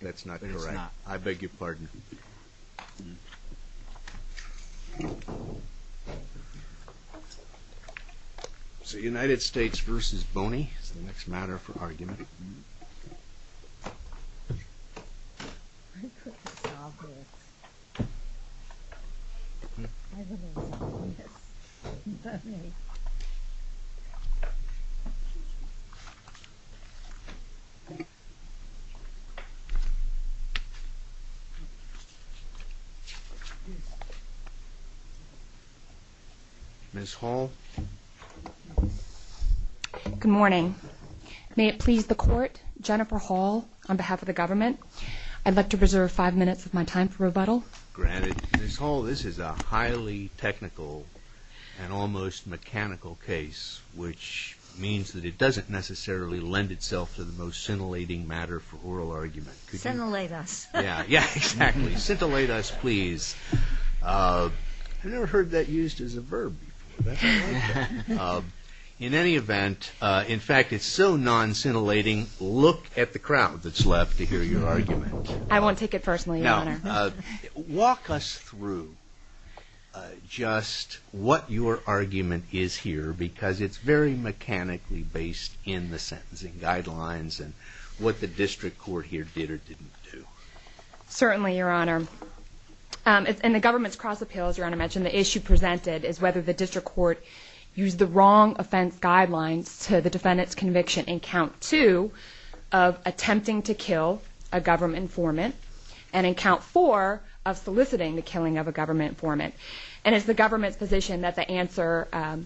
That's not correct. I beg your pardon. So United States v. Boney is the next matter for argument. Ms. Hall. Good morning. May it please the court, Jennifer Hall, on behalf of the government, I'd like to preserve five minutes of my time for rebuttal. Granted. Ms. Hall, this is a highly technical and almost mechanical case, which means that it doesn't necessarily lend itself to the most scintillating matter for rebuttal. Scintillate us. I've never heard that used as a verb before. In any event, in fact, it's so non-scintillating, look at the crowd that's left to hear your argument. I won't take it personally, Your Honor. Walk us through just what your argument is here, because it's very mechanically based in the sentencing guidelines and what the district court has to say. Certainly, Your Honor. And the government's cross-appeal, as Your Honor mentioned, the issue presented is whether the district court used the wrong offense guidelines to the defendant's conviction in count two of attempting to kill a government informant and in count four of soliciting the killing of a government informant. And it's the government's position that the answer, the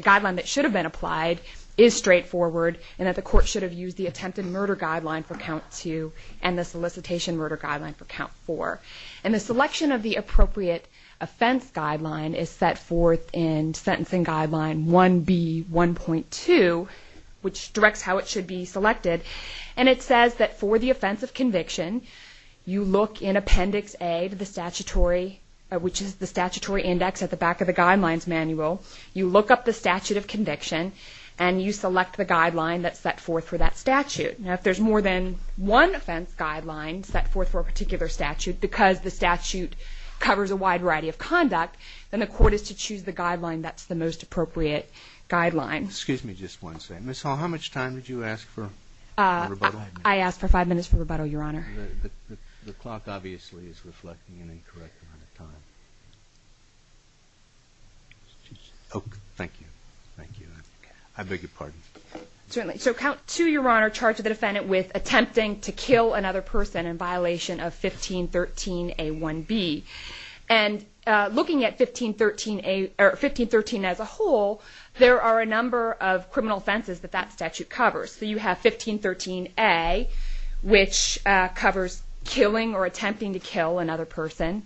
guideline that should have been applied is straightforward and that the court should have used the attempted murder guideline for count three. And the solicitation murder guideline for count four. And the selection of the appropriate offense guideline is set forth in sentencing guideline 1B1.2, which directs how it should be selected. And it says that for the offense of conviction, you look in appendix A to the statutory, which is the statutory index at the back of the guidelines manual. You look up the statute of conviction and you select the guideline that's set forth for that statute. Now, if there's more than one offense guideline set forth for a particular statute because the statute covers a wide variety of conduct, then the court is to choose the guideline that's the most appropriate guideline. Excuse me just one second. Ms. Hall, how much time did you ask for rebuttal? I asked for five minutes for rebuttal, Your Honor. The clock obviously is reflecting an incorrect amount of time. Oh, thank you. Thank you. I beg your pardon. Certainly. So count two, Your Honor, charged the defendant with attempting to kill another person in violation of 1513A1B. And looking at 1513 as a whole, there are a number of criminal offenses that that statute covers. So you have 1513A, which covers killing or attempting to kill another person.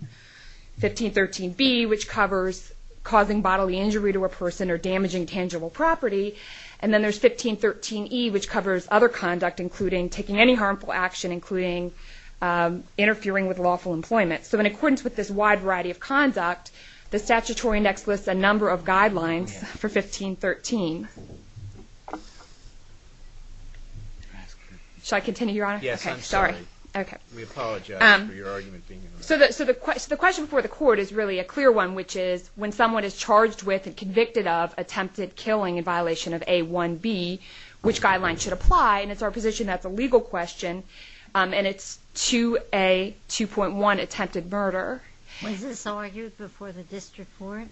1513B, which covers causing bodily injury to a person or damaging tangible property. And then there's 1513E, which covers other conduct, including taking any harmful action, including interfering with lawful employment. So in accordance with this wide variety of conduct, the statutory index lists a number of guidelines for 1513. Shall I continue, Your Honor? Yes, I'm sorry. We apologize for your argument being interrupted. So the question for the court is really a clear one, which is when someone is charged with and convicted of attempted killing in violation of A1B, which guideline should apply? And it's our position that's a legal question, and it's 2A2.1, attempted murder. Was this argued before the district court?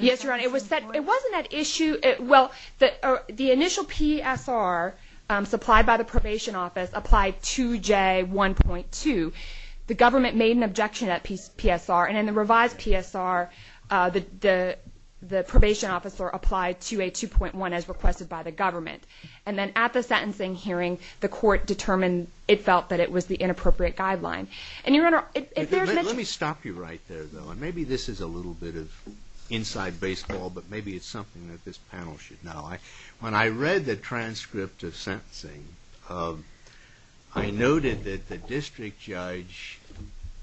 Yes, Your Honor. It wasn't at issue. Well, the initial PSR supplied by the probation office applied 2J1.2. The government made an objection at PSR, and in the revised PSR, the probation officer applied 2A2.1 as requested by the government. And then at the sentencing hearing, the court determined it felt that it was the inappropriate guideline. Let me stop you right there, though, and maybe this is a little bit of inside baseball, but maybe it's something that this panel should know. When I read the transcript of sentencing, I noted that the district judge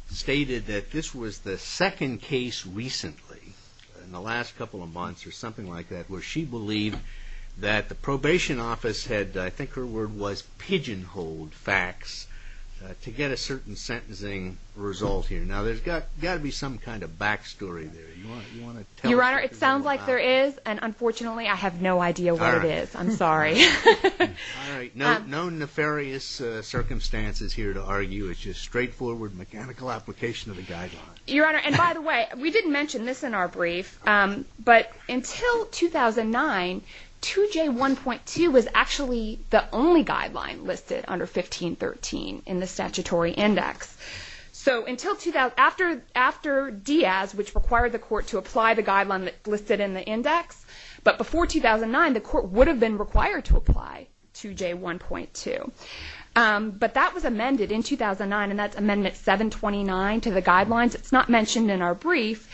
stated that this was the second case recently in the last couple of months or something like that where she believed that the probation office had, I think her word was pigeonholed facts to get a certain sentence. And I think that's the sentencing result here. Now, there's got to be some kind of back story there. Your Honor, it sounds like there is, and unfortunately, I have no idea what it is. I'm sorry. All right. No nefarious circumstances here to argue. It's just straightforward mechanical application of the guideline. Your Honor, and by the way, we didn't mention this in our brief, but until 2009, 2J1.2 was actually the only guideline listed under 1513 in the statutory index. So after Diaz, which required the court to apply the guideline listed in the index, but before 2009, the court would have been required to apply 2J1.2. But that was amended in 2009, and that's Amendment 729 to the guidelines. It's not mentioned in our brief,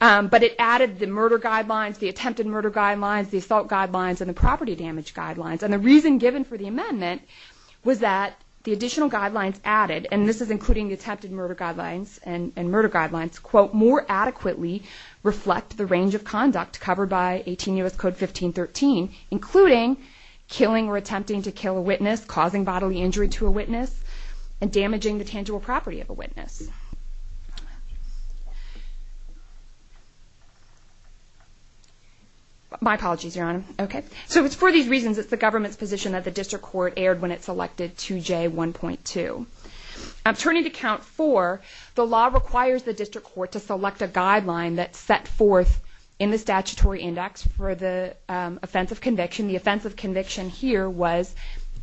but it added the murder guidelines, the attempted murder guidelines, the assault guidelines, and the property damage guidelines. And the reason given for the amendment was that the additional guidelines added, and this is including the attempted murder guidelines and murder guidelines, quote, more adequately reflect the range of conduct covered by 18 U.S. Code 1513, including killing or attempting to kill a witness, causing bodily injury to a witness, and damaging the tangible property of a witness. My apologies, Your Honor. So it's for these reasons it's the government's position that the district court erred when it selected 2J1.2. Turning to Count 4, the law requires the district court to select a guideline that's set forth in the statutory index for the offense of conviction. The offense of conviction here was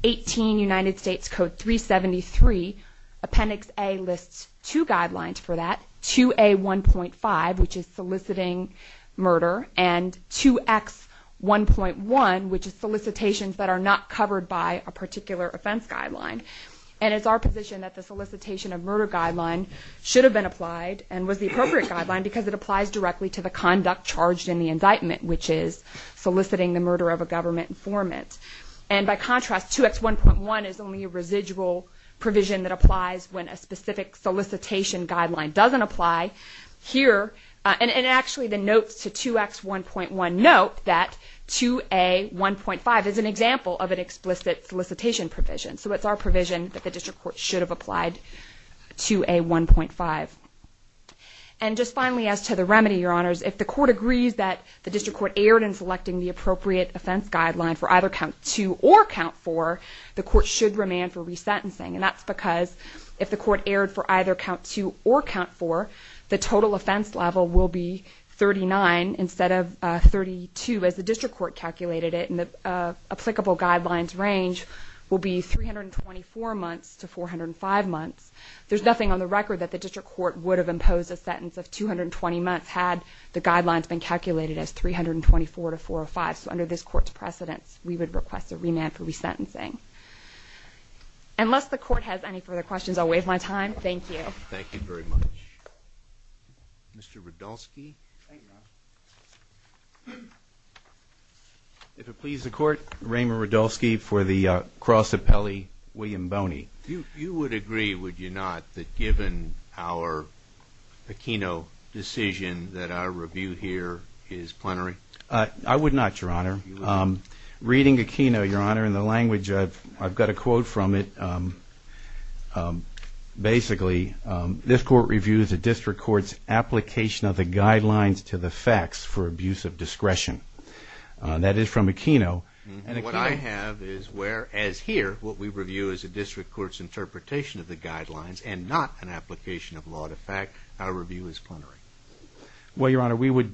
18 U.S. Code 373, Appendix A lists two guidelines, 2A1.5, which is soliciting murder, and 2X1.1, which is solicitations that are not covered by a particular offense guideline. And it's our position that the solicitation of murder guideline should have been applied, and was the appropriate guideline because it applies directly to the conduct charged in the indictment, which is soliciting the murder of a government informant. And by contrast, 2X1.1 is only a residual provision that applies when a specific solicitation guideline doesn't apply. Here, and actually the notes to 2X1.1 note that 2A1.5 is an example of an explicit solicitation provision. So it's our provision that the district court should have applied 2A1.5. And just finally as to the remedy, Your Honors, if the court agrees that the district court erred in selecting the appropriate offense guideline for either count two or count four, the court should remand for resentencing. And that's because if the court erred for either count two or count four, the total offense level will be 39 instead of 32 as the district court calculated it, and the applicable guidelines range will be 324 months to 405 months. There's nothing on the record that the district court would have imposed a sentence of 220 months had the guidelines been calculated as 324 to 405. So under this court's precedence, we would request a remand for resentencing. Unless the court has any further questions, I'll waive my time. Thank you. Thank you very much. Mr. Radulski. Thank you, Your Honor. If it pleases the court, Raymond Radulski for the Cross Appellee, William Boney. You would agree, would you not, that given our Aquino decision that our review here is plenary? I would not, Your Honor. Reading Aquino, Your Honor, in the language I've got a quote from it. Basically, this court reviews a district court's application of the guidelines to the facts for abuse of discretion. That is from Aquino. And what I have is whereas here what we review is a district court's interpretation of the guidelines and not an application of law to fact, our review is plenary. Well, Your Honor, we would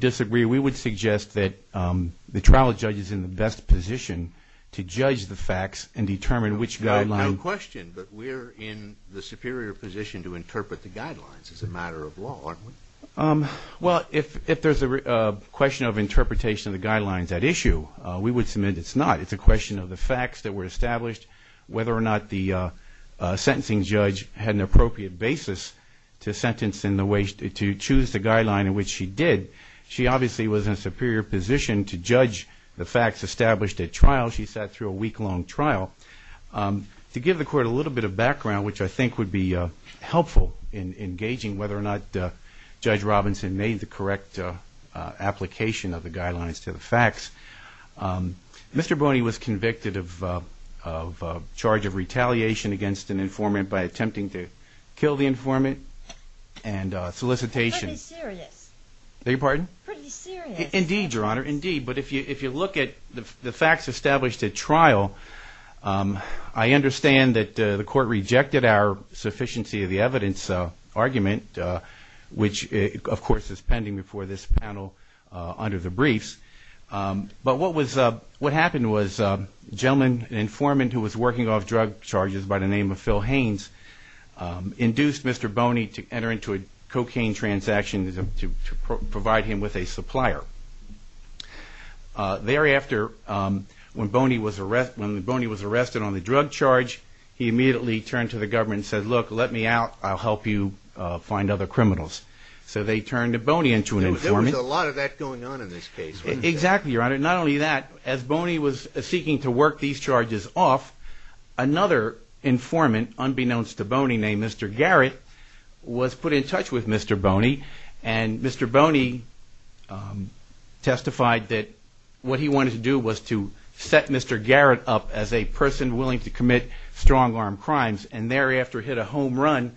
disagree. We would suggest that the trial judge is in the best position to judge the facts and determine which guidelines... No question, but we're in the superior position to interpret the guidelines as a matter of law, aren't we? Well, if there's a question of interpretation of the guidelines at issue, we would submit it's not. It's a question of the facts that were established, whether or not the sentencing judge had an appropriate basis to sentence in the way to choose the guideline in which she did. She obviously was in a superior position to judge the facts established at trial. She sat through a week-long trial. To give the court a little bit of background, which I think would be helpful in engaging whether or not Judge Robinson made the correct application of the guidelines to the facts. Mr. Bonney was convicted of charge of retaliation against an informant by attempting to kill the informant and solicitation. Pretty serious. Indeed, Your Honor, indeed. But if you look at the facts established at trial, I understand that the court rejected our sufficiency of the evidence argument, which, of course, is pending before this panel under the briefs. But what happened was a gentleman, an informant who was working off drug charges by the name of Phil Haynes, induced Mr. Bonney to enter into a cocaine transaction. To provide him with a supplier. Thereafter, when Bonney was arrested on the drug charge, he immediately turned to the government and said, look, let me out, I'll help you find other criminals. So they turned to Bonney into an informant. There was a lot of that going on in this case, wasn't there? And Mr. Bonney testified that what he wanted to do was to set Mr. Garrett up as a person willing to commit strong-arm crimes. And thereafter, hit a home run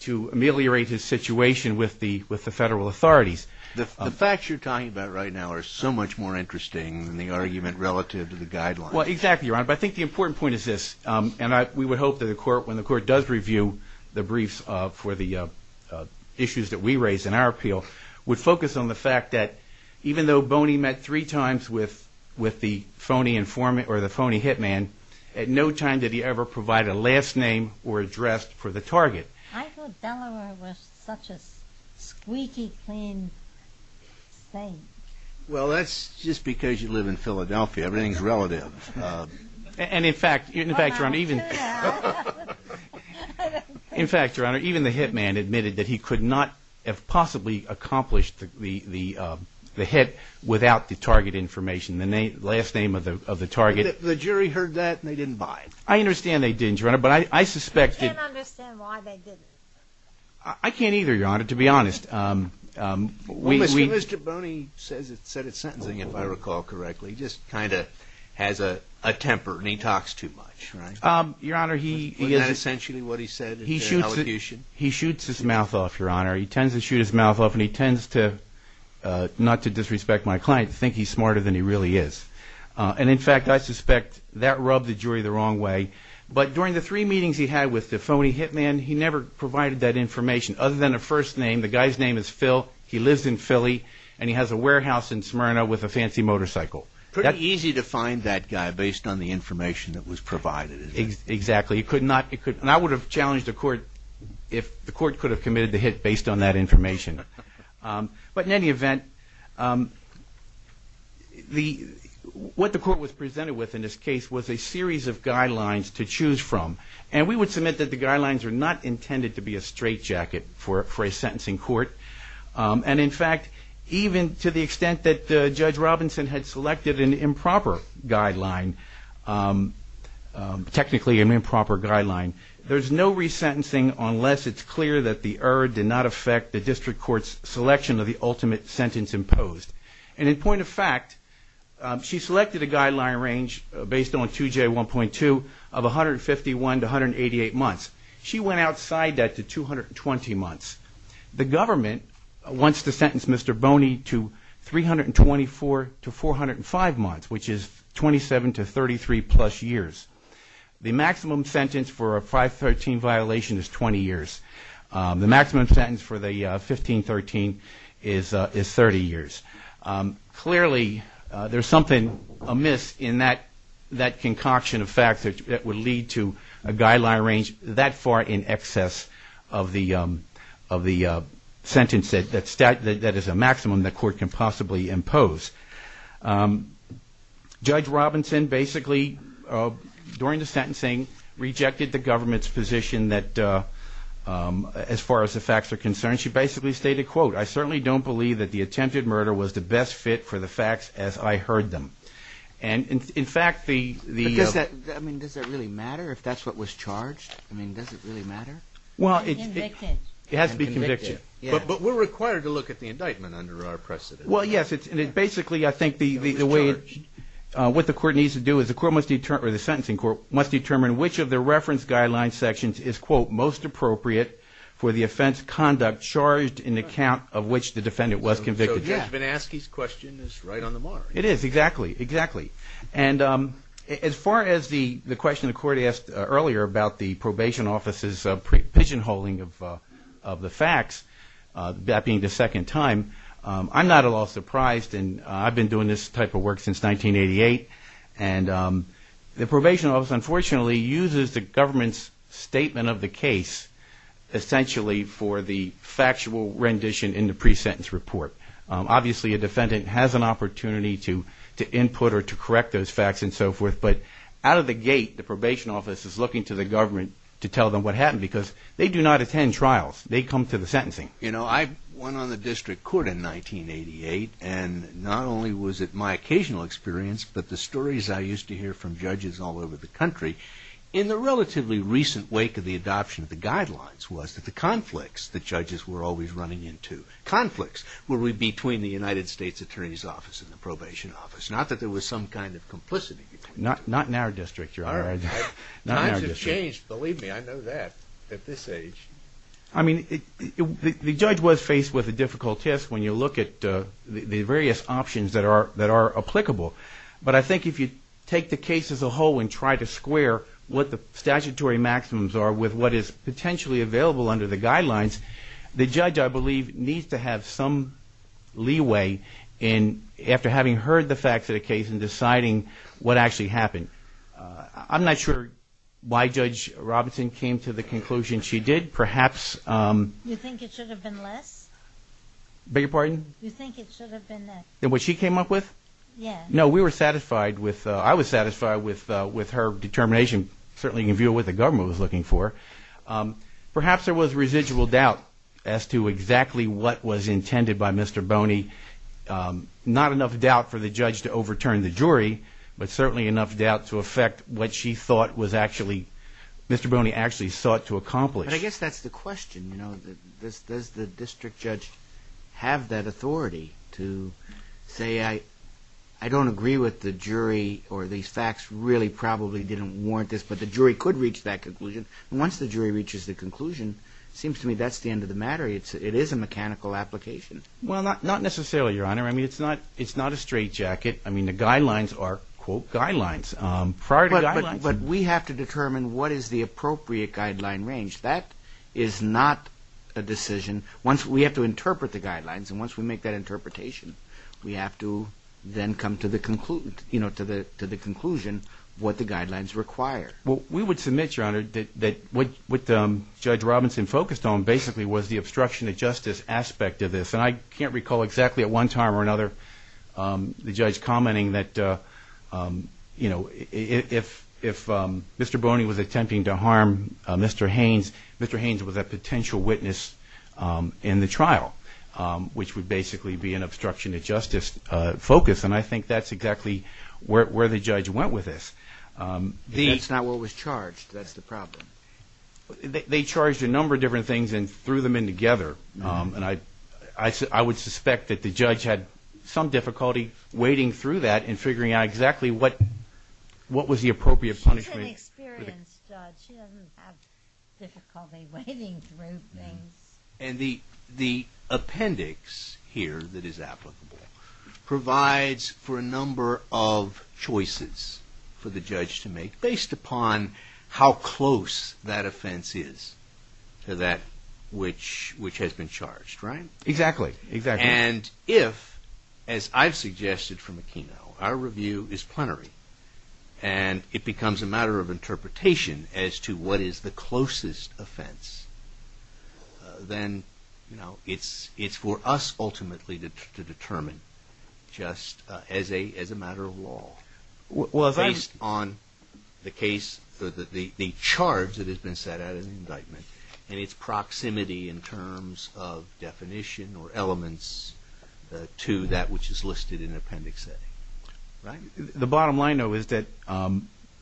to ameliorate his situation with the federal authorities. The facts you're talking about right now are so much more interesting than the argument relative to the guidelines. Well, exactly, Your Honor. But I think the important point is this, and we would hope that when the court does review the briefs for the issues that we raise in our appeal, we'd focus on the fact that even though Bonney met three times with the phony hitman, at no time did he ever provide a last name or address for the target. I thought Delaware was such a squeaky clean state. Well, that's just because you live in Philadelphia. Everything's relative. And in fact, Your Honor, even the hitman admitted that he could not have possibly accomplished the hit without the target information, the last name of the target. The jury heard that and they didn't buy it. I can't understand why they didn't. I can't either, Your Honor, to be honest. Mr. Bonney said it sentencing, if I recall correctly. He just kind of has a temper and he talks too much, right? Your Honor, he is... Isn't that essentially what he said in the elocution? He shoots his mouth off, Your Honor. He tends to shoot his mouth off and he tends to, not to disrespect my client, think he's smarter than he really is. And in fact, I suspect that rubbed the jury the wrong way. But during the three meetings he had with the phony hitman, he never provided that information other than a first name. The guy's name is Phil. He lives in Philly and he has a warehouse in Smyrna with a fancy motorcycle. Pretty easy to find that guy based on the information that was provided, isn't it? Exactly. He could not... And I would have challenged the court if the court could have committed the hit based on that information. But in any event, what the court was presented with in this case was a series of guidelines to choose from. And we would submit that the guidelines are not intended to be a straitjacket for a sentencing court. And in fact, even to the extent that Judge Robinson had selected an improper guideline, technically an improper guideline, there's no resentencing unless it's clear that the error did not affect the district court's selection of the ultimate sentence imposed. And in point of fact, she selected a guideline range based on 2J1.2 of 151 to 188 months. She went outside that to 220 months. The government wants to sentence Mr. Boney to 324 to 405 months, which is 27 to 30 months. The maximum sentence for a 513 violation is 20 years. The maximum sentence for the 1513 is 30 years. Clearly, there's something amiss in that concoction of facts that would lead to a guideline range that far in excess of the sentence that is a maximum the court can possibly impose. Judge Robinson basically, during the sentencing, rejected the government's position that as far as the facts are concerned. She basically stated, quote, I certainly don't believe that the attempted murder was the best fit for the facts as I heard them. And in fact, the... Does that really matter if that's what was charged? I mean, does it really matter? Well, it has to be conviction. But we're required to look at the indictment under our precedent. Well, yes, it's basically I think the way what the court needs to do is the court must determine or the sentencing court must determine which of the reference guideline sections is, quote, most appropriate for the offense conduct charged in account of which the defendant was convicted. Yeah. Well, Kevin Askey's question is right on the mark. It is, exactly, exactly. And as far as the question the court asked earlier about the probation office's pigeonholing of the facts, that being the second time, I'm not at all surprised. And I've been doing this type of work since 1988. And the probation office, unfortunately, uses the government's statement of the case essentially for the factual rendition in the pre-sentence report. Obviously, a defendant has an opportunity to input or to correct those facts and so forth. But out of the gate, the probation office is looking to the government to tell them what happened because they do not attend trials. They come to the sentencing. You know, I went on the district court in 1988. And not only was it my occasional experience, but the stories I used to hear from judges all over the country. In the relatively recent wake of the adoption of the guidelines was that the conflicts that judges were always running into, conflicts were between the United States Attorney's Office and the probation office. Not that there was some kind of complicity. Not in our district, Your Honor. Times have changed. Believe me, I know that at this age. I mean, the judge was faced with a difficult test when you look at the various options that are applicable. But I think if you take the case as a whole and try to square what the statutory maximums are with what is potentially available under the guidelines, the judge, I believe, needs to have some leeway in after having heard the facts of the case and deciding what actually happened. I'm not sure why Judge Robinson came to the conclusion she did. Perhaps... You think it should have been less? No, we were satisfied with, I was satisfied with her determination. Certainly you can view what the government was looking for. Perhaps there was residual doubt as to exactly what was intended by Mr. Boney. Not enough doubt for the judge to overturn the jury, but certainly enough doubt to affect what she thought was actually... Mr. Boney actually sought to accomplish. But I guess that's the question, you know, does the district judge have that authority to say, I don't agree with the jury or these facts really probably didn't warrant this, but the jury could reach that conclusion. Once the jury reaches the conclusion, it seems to me that's the end of the matter. It is a mechanical application. Well, not necessarily, Your Honor. I mean, it's not a straight jacket. I mean, the guidelines are, quote, guidelines. But we have to determine what is the appropriate guideline range. That is not a decision. Once we have to interpret the guidelines and once we make that interpretation, we have to then come to the conclusion what the guidelines require. Well, we would submit, Your Honor, that what Judge Robinson focused on basically was the obstruction of justice aspect of this. And I can't recall exactly at one time or another the judge commenting that, you know, if Mr. Boney was attempting to harm Mr. Haynes, Mr. Haynes was a potential witness in the trial, which would basically be an obstruction of justice focus. And I think that's exactly where the judge went with this. That's not what was charged. That's the problem. They charged a number of different things and threw them in together. And I would suspect that the judge had some difficulty wading through that and figuring out exactly what was the appropriate punishment. She's an experienced judge. She doesn't have difficulty wading through things. And the appendix here that is applicable provides for a number of choices for the judge to make based upon how close that offense is to that which has been charged, right? Exactly. And if, as I've suggested from the keynote, our review is plenary and it becomes a matter of interpretation as to what is the closest offense, then it's for us ultimately to determine just as a matter of law based on the charge that has been set out in the indictment and its proximity in terms of definition or elements to that which is listed in the appendix. The bottom line, though, is that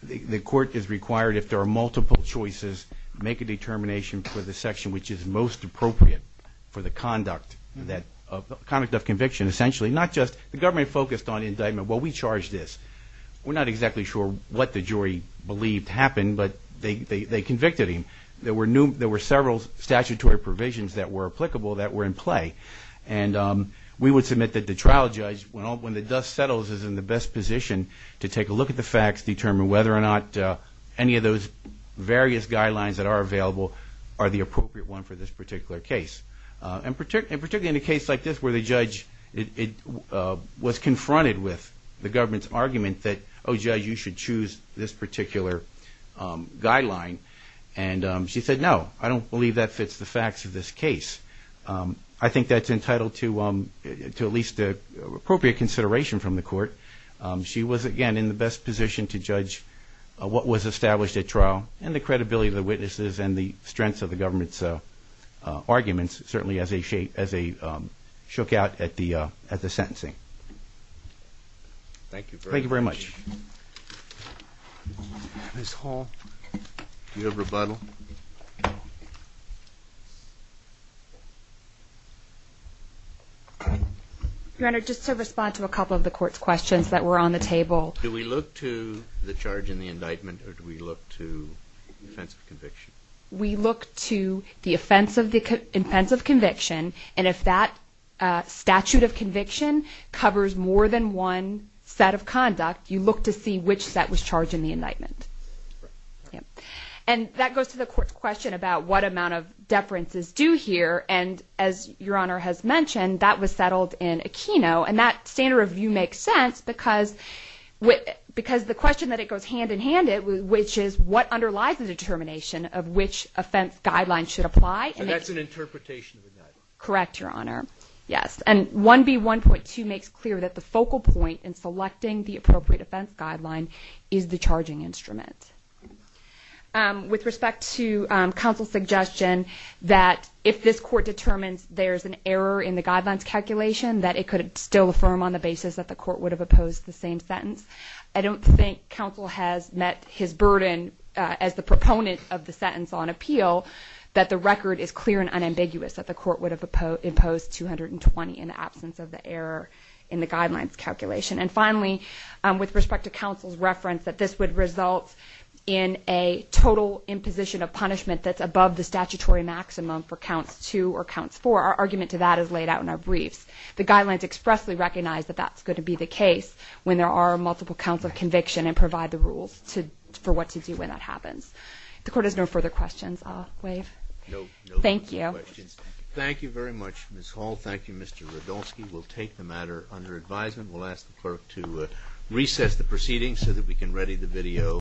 the court is required, if there are multiple choices, make a determination for the section which is most appropriate for the conduct of conviction, essentially. Not just the government focused on indictment, well, we charged this. We're not exactly sure what the jury believed happened, but they convicted him. There were several statutory provisions that were applicable that were in play. And we would submit that the trial judge, when the dust settles, is in the best position to take a look at the facts, determine whether or not any of those various guidelines that are available are the appropriate one for this particular case. And particularly in a case like this where the judge was confronted with the government's argument that, oh, judge, you should choose this particular guideline. And she said, no, I don't believe that fits the facts of this case. I think that's entitled to at least appropriate consideration from the court. She was, again, in the best position to judge what was established at trial and the credibility of the witnesses and the strengths of the government's arguments, certainly as they shook out at the sentencing. Thank you very much. Ms. Hall, do you have rebuttal? Your Honor, just to respond to a couple of the court's questions that were on the table. Do we look to the charge in the indictment or do we look to the offense of conviction? We look to the offense of conviction, and if that statute of conviction covers more than one set of conduct, you look to see which set was charged in the indictment. And that goes to the court's question about what amount of deferences do here. And as Your Honor has mentioned, that was settled in Aquino, and that standard of view makes sense because the question that it goes hand-in-hand with, which is what underlies the determination of which offense guideline should apply. And that's an interpretation of the indictment. Correct, Your Honor. Yes. And 1B1.2 makes clear that the focal point in selecting the appropriate offense guideline is the charging instrument. With respect to counsel's suggestion that if this court determines there's an error in the guidelines calculation that it could still affirm on the basis that the court would have opposed the same sentence, I don't think counsel has met his burden as the proponent of the sentence on appeal that the record is clear and unambiguous that the court would have imposed 220 in the absence of the error in the guidelines calculation. And finally, with respect to counsel's reference that this would result in a total imposition of punishment that's above the statutory maximum for counts two or counts four, our argument to that is laid out in our briefs. The guidelines expressly recognize that that's going to be the case when there are multiple counts of conviction and provide the rules for what to do when that happens. If the court has no further questions, I'll waive. Thank you. Thank you very much, Ms. Hall. Thank you, Mr. Radulski. We'll take the matter under advisement. We'll ask the clerk to recess the proceedings so that we can ready the video.